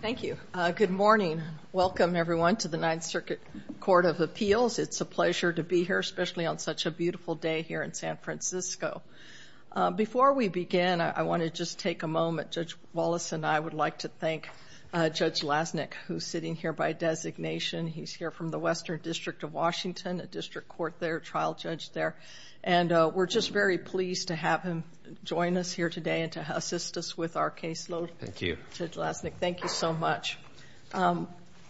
Thank you. Good morning. Welcome, everyone, to the Ninth Circuit Court of Appeals. It's a pleasure to be here, especially on such a beautiful day here in San Francisco. Before we begin, I want to just take a moment. Judge Wallace and I would like to thank Judge Lasnik, who's sitting here by designation. He's here from the Western District of Washington, a district court there, trial judge there. And we're just very pleased to have him join us here today and to assist us with our caseload. Thank you. Judge Lasnik, thank you so much.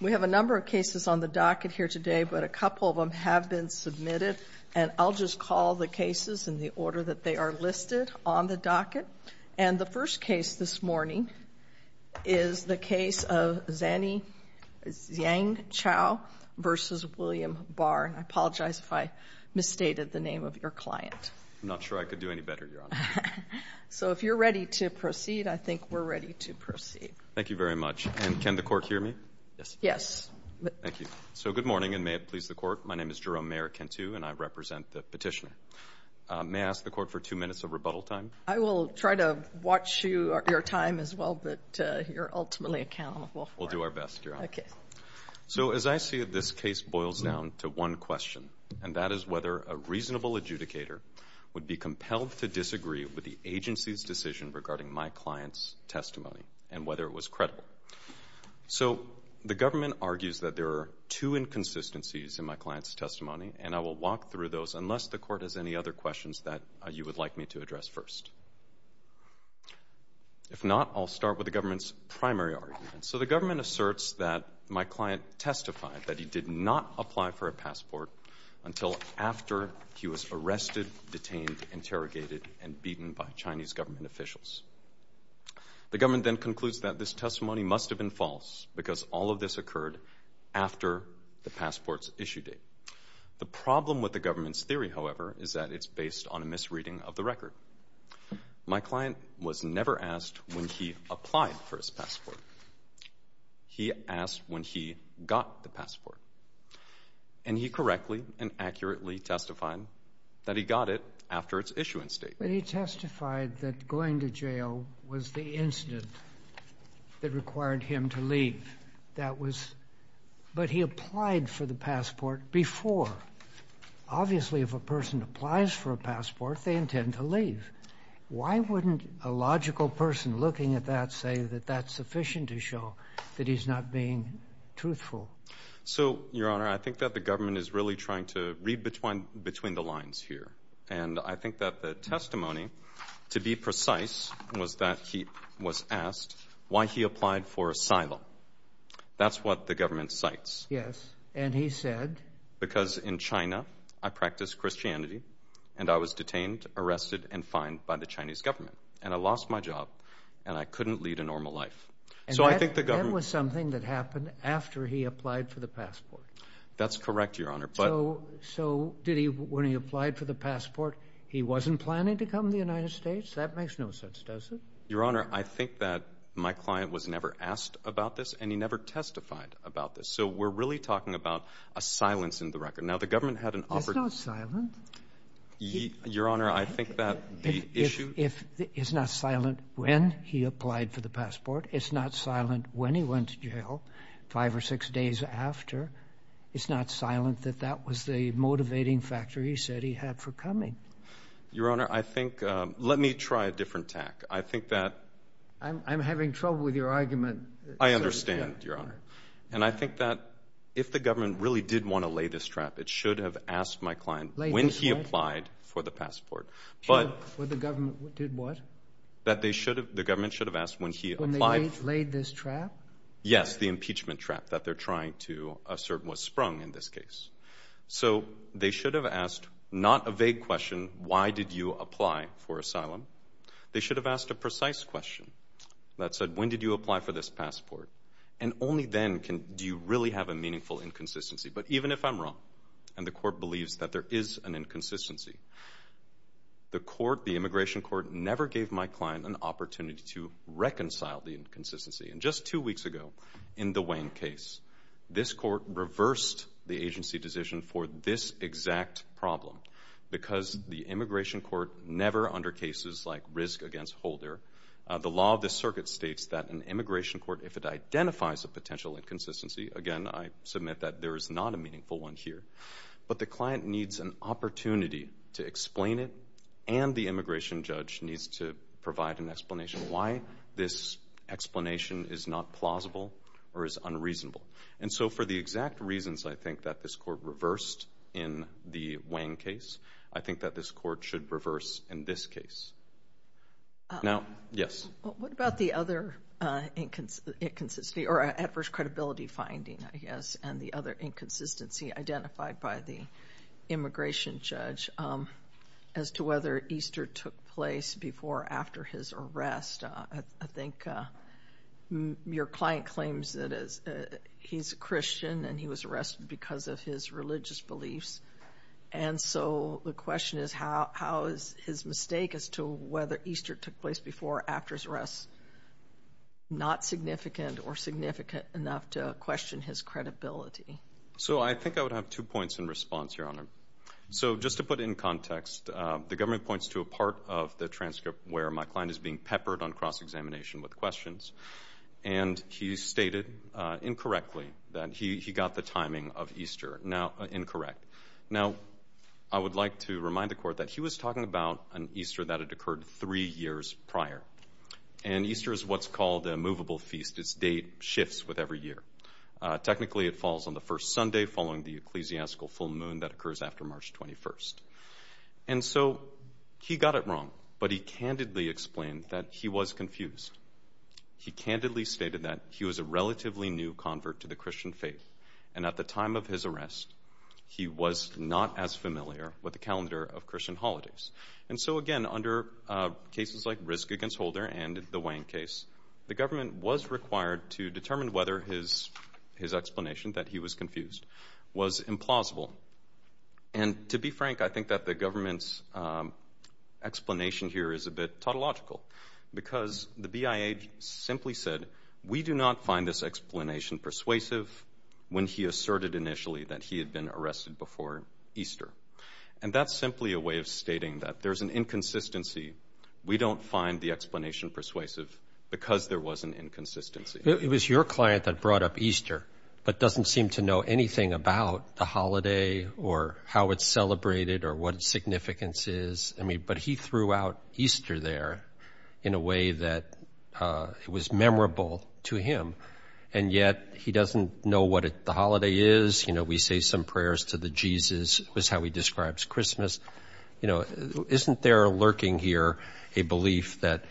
We have a number of cases on the docket here today, but a couple of them have been submitted. And I'll just call the cases in the order that they are listed on the docket. And the first case this morning is the case of Zany Zyang Chao v. William Barr. And I apologize if I misstated the name of your client. I'm not sure I could do any better, Your Honor. So if you're ready to proceed, I think we're ready to proceed. Thank you very much. And can the court hear me? Yes. Yes. Thank you. So good morning, and may it please the court. My name is Jerome Mayorkentu, and I represent the petitioner. May I ask the court for two minutes of rebuttal time? I will try to watch your time as well, but you're ultimately accountable for it. We'll do our best, Your Honor. Okay. So as I see it, this case boils down to one question, and that is whether a reasonable adjudicator would be compelled to disagree with the agency's decision regarding my client's testimony and whether it was credible. So the government argues that there are two inconsistencies in my client's testimony, and I will walk through those unless the court has any other questions that you would like me to address first. If not, I'll start with the government's primary argument. So the government asserts that my client testified that he did not apply for a passport until after he was arrested, detained, interrogated, and beaten by Chinese government officials. The government then concludes that this testimony must have been false because all of this occurred after the passport's issue date. The problem with the government's theory, however, is that it's based on a misreading of the record. My client was never asked when he applied for his passport. He asked when he got the passport. And he correctly and accurately testified that he got it after its issuance date. But he testified that going to jail was the incident that required him to leave. That was — but he applied for the passport before. Obviously, if a person applies for a passport, they intend to leave. Why wouldn't a logical person looking at that say that that's sufficient to show that he's not being truthful? So, Your Honor, I think that the government is really trying to read between the lines here. And I think that the testimony, to be precise, was that he was asked why he applied for asylum. That's what the government cites. Yes. And he said? Because in China, I practice Christianity, and I was detained, arrested, and fined by the Chinese government. And I lost my job, and I couldn't lead a normal life. So I think the government — And that was something that happened after he applied for the passport? That's correct, Your Honor. But — So did he — when he applied for the passport, he wasn't planning to come to the United States? That makes no sense, does it? Your Honor, I think that my client was never asked about this, and he never testified about this. So we're really talking about a silence in the record. Now, the government had an — It's not silent. Your Honor, I think that the issue — It's not silent when he applied for the passport. It's not silent when he went to jail, five or six days after. It's not silent that that was the motivating factor he said he had for coming. Your Honor, I think — let me try a different tack. I think that — I'm having trouble with your argument. I understand, Your Honor. And I think that if the government really did want to lay this trap, it should have asked my client — Laid this what? — when he applied for the passport. But — When the government did what? That they should have — the government should have asked when he applied — When they laid this trap? Yes, the impeachment trap that they're trying to assert was sprung in this case. So they should have asked not a vague question, why did you apply for asylum? They should have asked a precise question that said, when did you apply for this passport? And only then can — do you really have a meaningful inconsistency. But even if I'm wrong, and the court believes that there is an inconsistency, the court, the immigration court, never gave my client an opportunity to reconcile the inconsistency. And just two weeks ago, in the Wayne case, this court reversed the agency decision for this exact problem. Because the immigration court never, under cases like Risk v. Holder, the law of the circuit states that an immigration court, if it identifies a potential inconsistency — again, I submit that there is not a meaningful one here — but the client needs an opportunity to explain it, and the immigration judge needs to provide an explanation why this explanation is not plausible or is unreasonable. So for the exact reasons, I think, that this court reversed in the Wayne case, I think that this court should reverse in this case. What about the other inconsistency, or adverse credibility finding, I guess, and the other inconsistency identified by the immigration judge as to whether Easter took place before or after his arrest? I think your client claims that he's a Christian and he was arrested because of his religious beliefs. And so the question is, how is his mistake as to whether Easter took place before or after his arrest not significant or significant enough to question his credibility? So I think I would have two points in response, Your Honor. So just to put in context, the government points to a part of the transcript where my client is being peppered on cross-examination with questions, and he stated incorrectly that he got the timing of Easter incorrect. Now, I would like to remind the court that he was talking about an Easter that had occurred three years prior. And Easter is what's called a movable feast. Its date shifts with every year. Technically, it falls on the first Sunday following the ecclesiastical full moon that So he got it wrong, but he candidly explained that he was confused. He candidly stated that he was a relatively new convert to the Christian faith, and at the time of his arrest, he was not as familiar with the calendar of Christian holidays. And so again, under cases like Risk against Holder and the Wang case, the government was required to determine whether his explanation, that he was confused, was implausible. And to be frank, I think that the government's explanation here is a bit tautological because the BIA simply said, we do not find this explanation persuasive when he asserted initially that he had been arrested before Easter. And that's simply a way of stating that there's an inconsistency. We don't find the explanation persuasive because there was an inconsistency. It was your client that brought up Easter, but doesn't seem to know anything about the holiday or how it's celebrated or what its significance is. I mean, but he threw out Easter there in a way that it was memorable to him. And yet he doesn't know what the holiday is. You know, we say some prayers to the Jesus was how he describes Christmas. You know, isn't there lurking here a belief that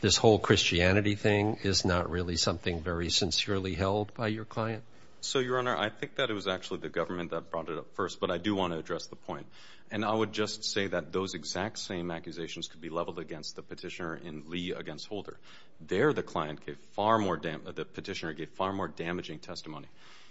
this whole Christianity thing is not really something very sincerely held by your client? So, Your Honor, I think that it was actually the government that brought it up first, but I do want to address the point. And I would just say that those exact same accusations could be leveled against the petitioner in Lee against Holder. There, the client gave far more, the petitioner gave far more damaging testimony.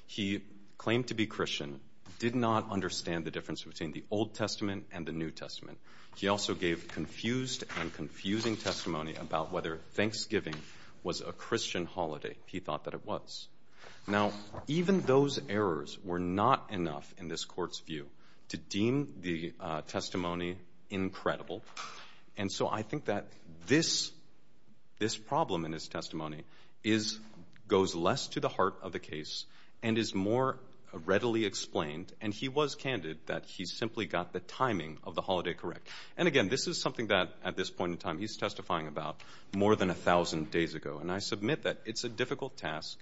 He claimed to be Christian, did not understand the difference between the Old Testament and the New Testament. He also gave confused and confusing testimony about whether Thanksgiving was a Christian holiday. He thought that it was. Now, even those errors were not enough in this court's view to deem the testimony incredible. And so I think that this problem in his testimony goes less to the heart of the case and is more readily explained. And he was candid that he simply got the timing of the holiday correct. And again, this is something that at this point in time he's testifying about more than a thousand days ago. And I submit that it's a difficult task.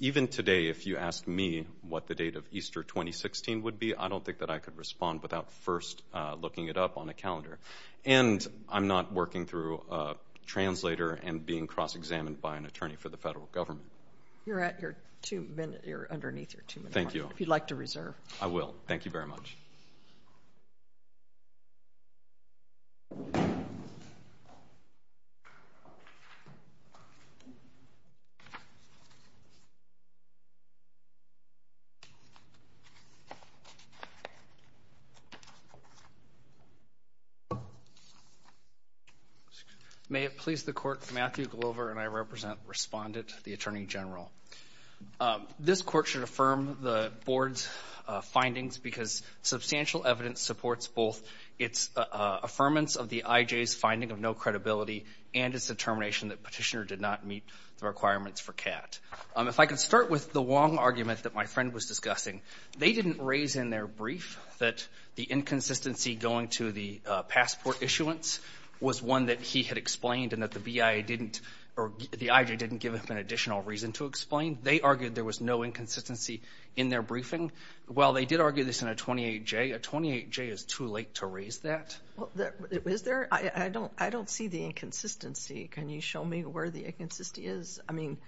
Even today, if you ask me what the date of Easter 2016 would be, I don't think that I could respond without first looking it up on a calendar. And I'm not working through a translator and being cross-examined by an underneath your tomb. Thank you. If you'd like to reserve. I will. Thank you very much. May it please the court, Matthew Glover and I represent respondent, the Attorney General. This court should affirm the board's findings because substantial evidence supports both its affirmance of the I.J.'s finding of no credibility and its determination that Petitioner did not meet the requirements for CAT. If I could start with the Wong argument that my friend was discussing. They didn't raise in their brief that the inconsistency going to the passport issuance was one that he had explained and that the BIA didn't or the I.J. didn't give him an additional reason to explain. They argued there was no inconsistency in their briefing. Well, they did argue this in a 28-J. A 28-J is too late to raise that. Is there? I don't see the inconsistency. Can you show me where the inconsistency is? I mean,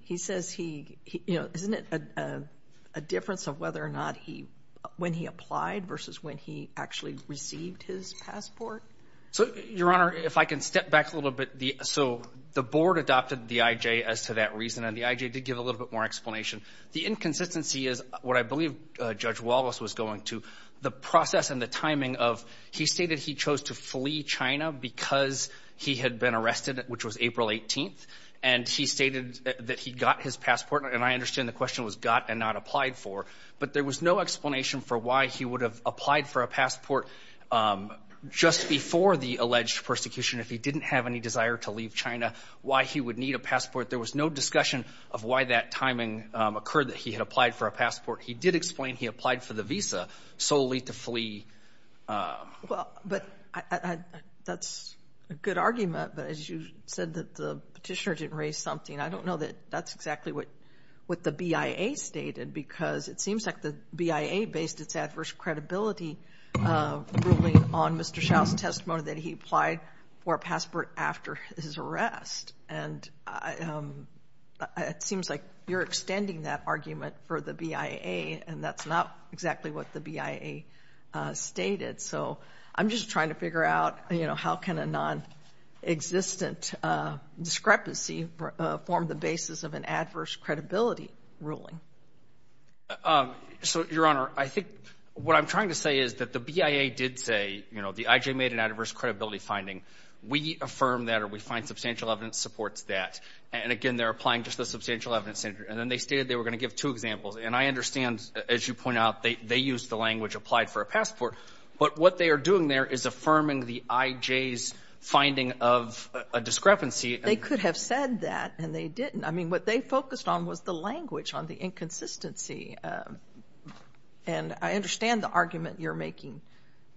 he says he, you know, isn't it a difference of whether or not he, when he applied versus when he actually received his passport? So, the board adopted the I.J. as to that reason, and the I.J. did give a little bit more explanation. The inconsistency is what I believe Judge Wallace was going to. The process and the timing of, he stated he chose to flee China because he had been arrested, which was April 18th, and he stated that he got his passport, and I understand the question was got and not applied for, but there was no explanation for why he would have applied for a passport just before the alleged persecution if he didn't have any desire to leave China, why he would need a passport. There was no discussion of why that timing occurred that he had applied for a passport. He did explain he applied for the visa solely to flee. Well, but I, that's a good argument, but as you said that the petitioner didn't raise something. I don't know that that's exactly what the BIA stated because it seems like the BIA based its adverse credibility ruling on Mr. Dow's testimony that he applied for a passport after his arrest, and it seems like you're extending that argument for the BIA, and that's not exactly what the BIA stated, so I'm just trying to figure out, you know, how can a nonexistent discrepancy form the basis of an adverse credibility ruling? So, Your Honor, I think what I'm trying to say is that the BIA did say, you know, the IJ made an adverse credibility finding. We affirm that, or we find substantial evidence supports that, and again, they're applying just the substantial evidence, and then they stated they were going to give two examples, and I understand, as you point out, they used the language applied for a passport, but what they are doing there is affirming the IJ's finding of a discrepancy. They could have said that, and they didn't. I mean, what they focused on was the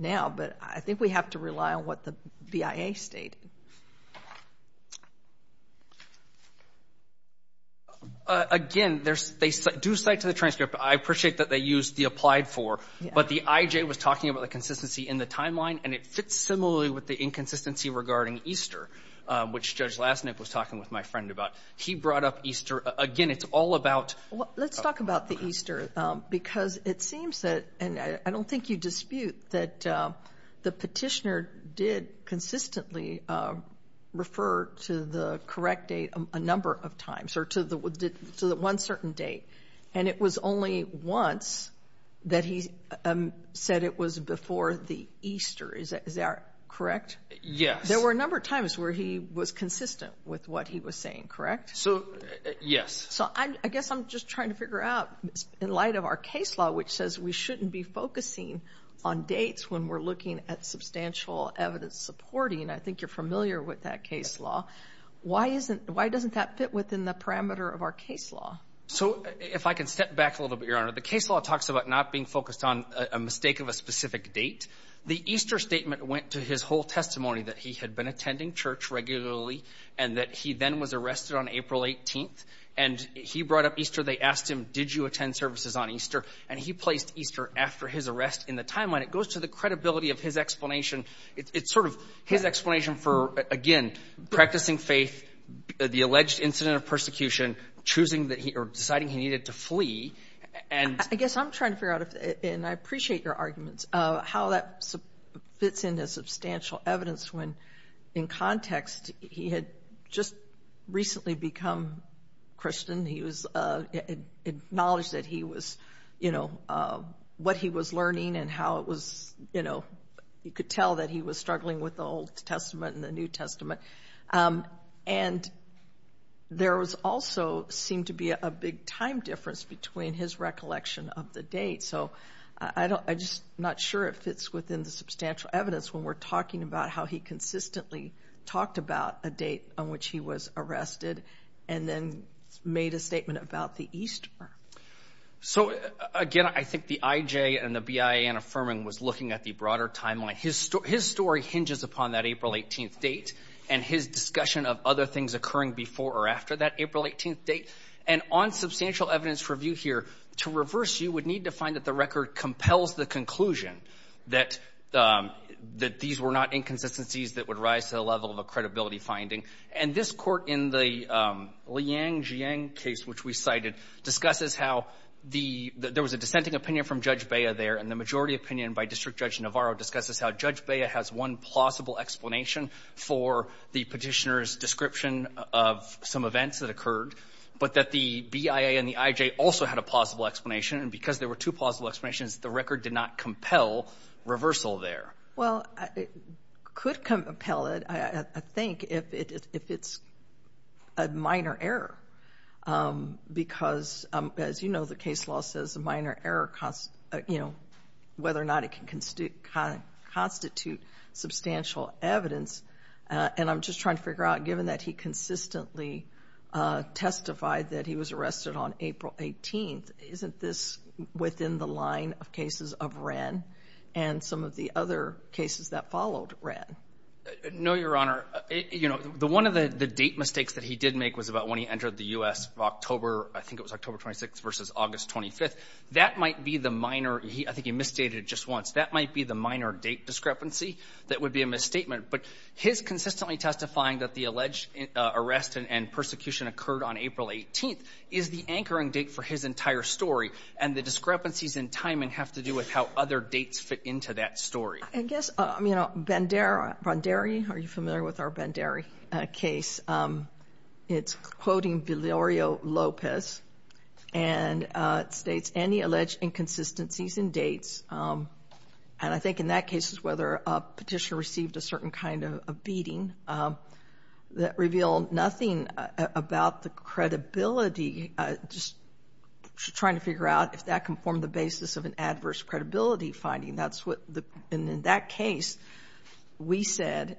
now, but I think we have to rely on what the BIA stated. Again, they do cite to the transcript. I appreciate that they used the applied for, but the IJ was talking about the consistency in the timeline, and it fits similarly with the inconsistency regarding EASTER, which Judge Lasnik was talking with my friend about. He brought up EASTER. Again, it's all about... Let's talk about the EASTER, because it seems that, and I don't think you dispute that the petitioner did consistently refer to the correct date a number of times, or to the one certain date, and it was only once that he said it was before the EASTER. Is that correct? Yes. There were a number of times where he was consistent with what he was saying, correct? So, yes. So, I guess I'm just trying to figure out, in light of our case law, which says we shouldn't be focusing on dates when we're looking at substantial evidence supporting, and I think you're familiar with that case law, why doesn't that fit within the parameter of our case law? So, if I can step back a little bit, Your Honor, the case law talks about not being focused on a mistake of a specific date. The EASTER statement went to his whole testimony, that he had been attending church regularly, and that he then was arrested on April 18th, and he brought up EASTER. They asked him, did you attend services on EASTER? And he placed EASTER after his arrest in the timeline. It goes to the credibility of his explanation. It's sort of his explanation for, again, practicing faith, the alleged incident of persecution, choosing that he, or deciding he needed to flee, and... I guess I'm trying to figure out, and I appreciate your arguments, how that fits into substantial evidence when, in context, he had just recently become Christian. He was acknowledged that he was, you know, what he was learning and how it was, you know, you could tell that he was struggling with the Old Testament and the New Testament. And there was also seemed to be a big time difference between his recollection of the date. So, I just not sure if it's within the substantial evidence when we're talking about how he consistently talked about a date on which he was arrested and then made a statement about the EASTER. So, again, I think the IJ and the BIA and Affirman was looking at the broader timeline. His story hinges upon that April 18th date and his discussion of other things occurring before or after that April 18th date. And on substantial evidence review here, to reverse you would need to find that the record compels the conclusion that these were not inconsistencies that would rise to the level of a credibility finding. And this Court, in the Liang-Jiang case, which we cited, discusses how there was a dissenting opinion from Judge Bea there, and the majority opinion by District Judge Navarro discusses how Judge Bea has one plausible explanation for the Petitioner's description of some events that occurred, but that the BIA and there were two plausible explanations, the record did not compel reversal there. Well, it could compel it, I think, if it's a minor error. Because, as you know, the case law says a minor error, you know, whether or not it can constitute substantial evidence. And I'm just trying to figure out, given that he consistently testified that he was arrested on April 18th, isn't this within the line of cases of Wren and some of the other cases that followed Wren? No, Your Honor. You know, one of the date mistakes that he did make was about when he entered the U.S. October, I think it was October 26th versus August 25th. That might be the minor, I think he misstated it just once, that might be the minor date discrepancy that would be a misstatement. But his consistently testifying that the alleged arrest and persecution occurred on April 18th is the anchoring date for his entire story. And the discrepancies in timing have to do with how other dates fit into that story. I guess, you know, Bonderi, are you familiar with our Bonderi case? It's quoting Villario Lopez, and it states, any alleged inconsistencies in dates, and I think in that case it's whether a petitioner received a certain kind of beating that reveal nothing about the credibility, just trying to figure out if that can form the basis of an adverse credibility finding. That's what, in that case, we said,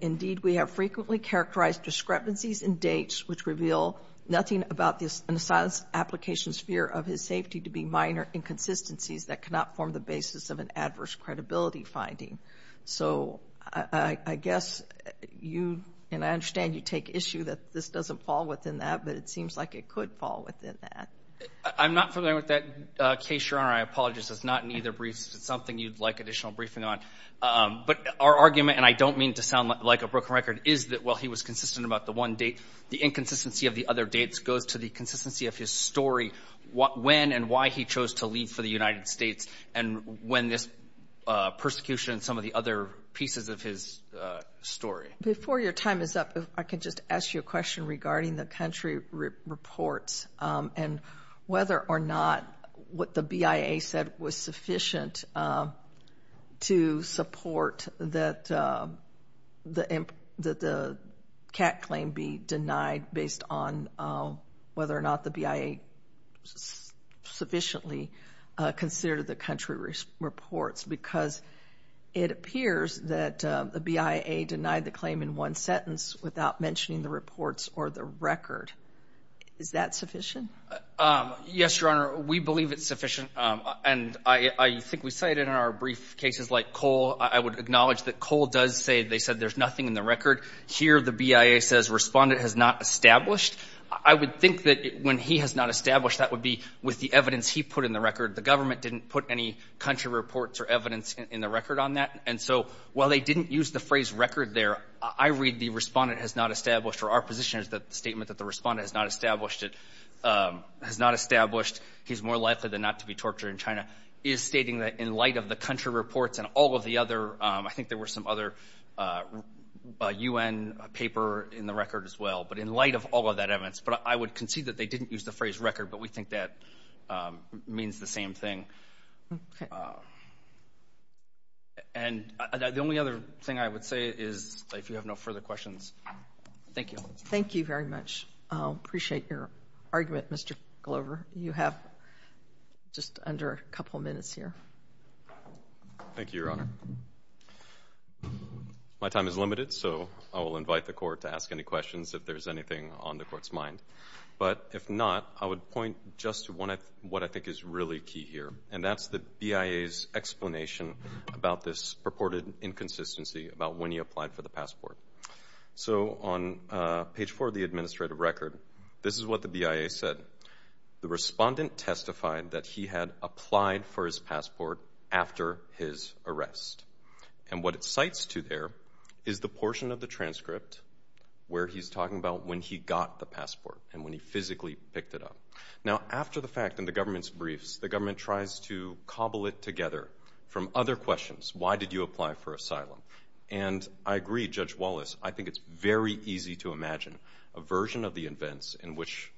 indeed, we have frequently characterized discrepancies in dates which reveal nothing about this in the science application sphere of his safety to be minor inconsistencies that cannot form the basis of an adverse credibility finding. So, I guess you, and I understand you take issue that this doesn't fall within that, but it seems like it could fall within that. I'm not familiar with that case, Your Honor. I apologize. It's not in either briefs. It's something you'd like additional briefing on. But our argument, and I don't mean to sound like a broken record, is that while he was consistent about the one date, the inconsistency of the other dates goes to the consistency of his story, when and why he chose to leave for the United States, and when this persecution and some of the other pieces of his story. Before your time is up, if I could just ask you a question regarding the country reports and whether or not what the BIA said was sufficient to support that the CAC claim be denied based on whether or not the BIA sufficiently considered the country reports because it appears that the BIA denied the claim in one sentence without mentioning the reports or the record. Is that sufficient? Yes, Your Honor. We believe it's sufficient, and I think we say it in our brief cases like Cole. I would acknowledge that Cole does say they said there's nothing in the record. Here the BIA says respondent has not established. I would think that when he has not established, that would be with the evidence he put in the record. The government didn't put any country reports or evidence in the record on that, and so while they didn't use the phrase record there, I read the respondent has not established or our position is that the statement that the respondent has not established, he's more likely than not to be tortured in China, is stating that in light of the country reports and all of the I think there were some other UN paper in the record as well, but in light of all of that evidence. But I would concede that they didn't use the phrase record, but we think that means the same thing. And the only other thing I would say is if you have no further questions. Thank you. Thank you very much. Appreciate your argument, Mr. Glover. You have just under a couple minutes here. Thank you, Your Honor. My time is limited, so I will invite the court to ask any questions if there's anything on the court's mind. But if not, I would point just to one what I think is really key here, and that's the BIA's explanation about this purported inconsistency about when he applied for the passport. So on page four of the he had applied for his passport after his arrest. And what it cites to there is the portion of the transcript where he's talking about when he got the passport and when he physically picked it up. Now, after the fact, in the government's briefs, the government tries to cobble it together from other questions. Why did you apply for asylum? And I agree, Judge Wallace, I think it's very easy to imagine a version of the events in which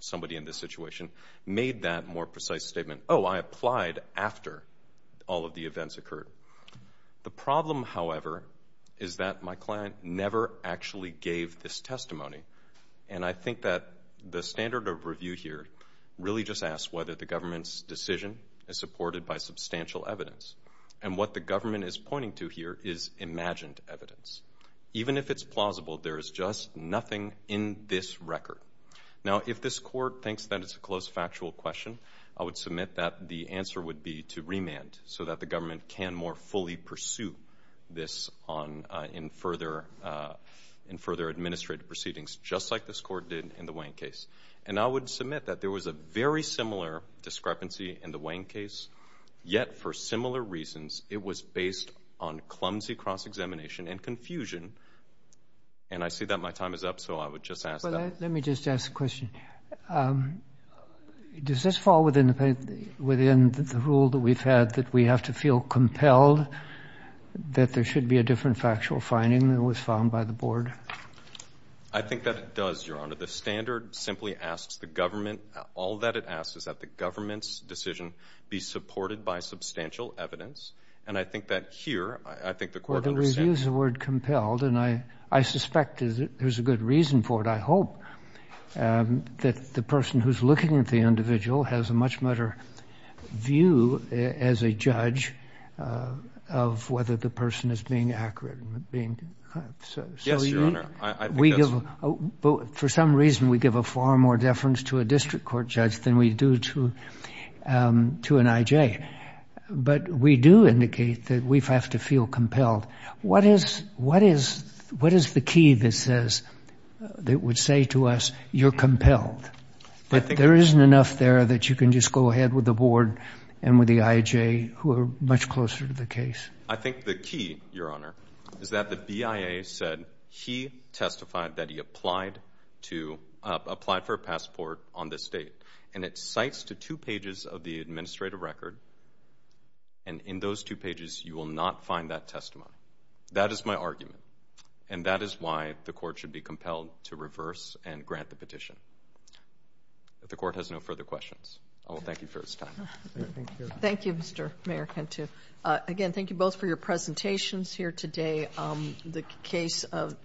somebody in this situation made that more precise statement. Oh, I applied after all of the events occurred. The problem, however, is that my client never actually gave this testimony. And I think that the standard of review here really just asks whether the government's decision is supported by substantial evidence. And what the government is pointing to here is imagined evidence. Even if it's plausible, there is just nothing in this record. Now, if this court thinks that it's a close factual question, I would submit that the answer would be to remand so that the government can more fully pursue this in further administrative proceedings, just like this court did in the Wayne case. And I would submit that there was a very similar discrepancy in the Wayne case, yet for similar reasons, it was based on clumsy cross-examination and confusion and I see that my time is up, so I would just ask that. Let me just ask a question. Does this fall within the rule that we've had that we have to feel compelled that there should be a different factual finding than was found by the board? I think that it does, Your Honor. The standard simply asks the government, all that it asks is that the government's decision be supported by substantial evidence. And I think that here, I think the court understands that. And I suspect there's a good reason for it, I hope, that the person who's looking at the individual has a much better view as a judge of whether the person is being accurate. Yes, Your Honor. For some reason, we give a far more deference to a district court judge than we do to an I.J. But we do indicate that we have to feel compelled. What is the key that would say to us, you're compelled, that there isn't enough there that you can just go ahead with the board and with the I.J. who are much closer to the case? I think the key, Your Honor, is that the BIA said he testified that he applied to apply for a passport on this date. And it cites to two pages of the administrative record. And in those two pages, you will not find that testimony. That is my argument. And that is why the court should be compelled to reverse and grant the petition. The court has no further questions. I will thank you for this time. Thank you, Mr. Mayor Cantu. Again, thank you both for your presentations here today. The case of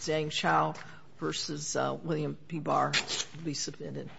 Zhang Chao versus William P. Barr will be submitted.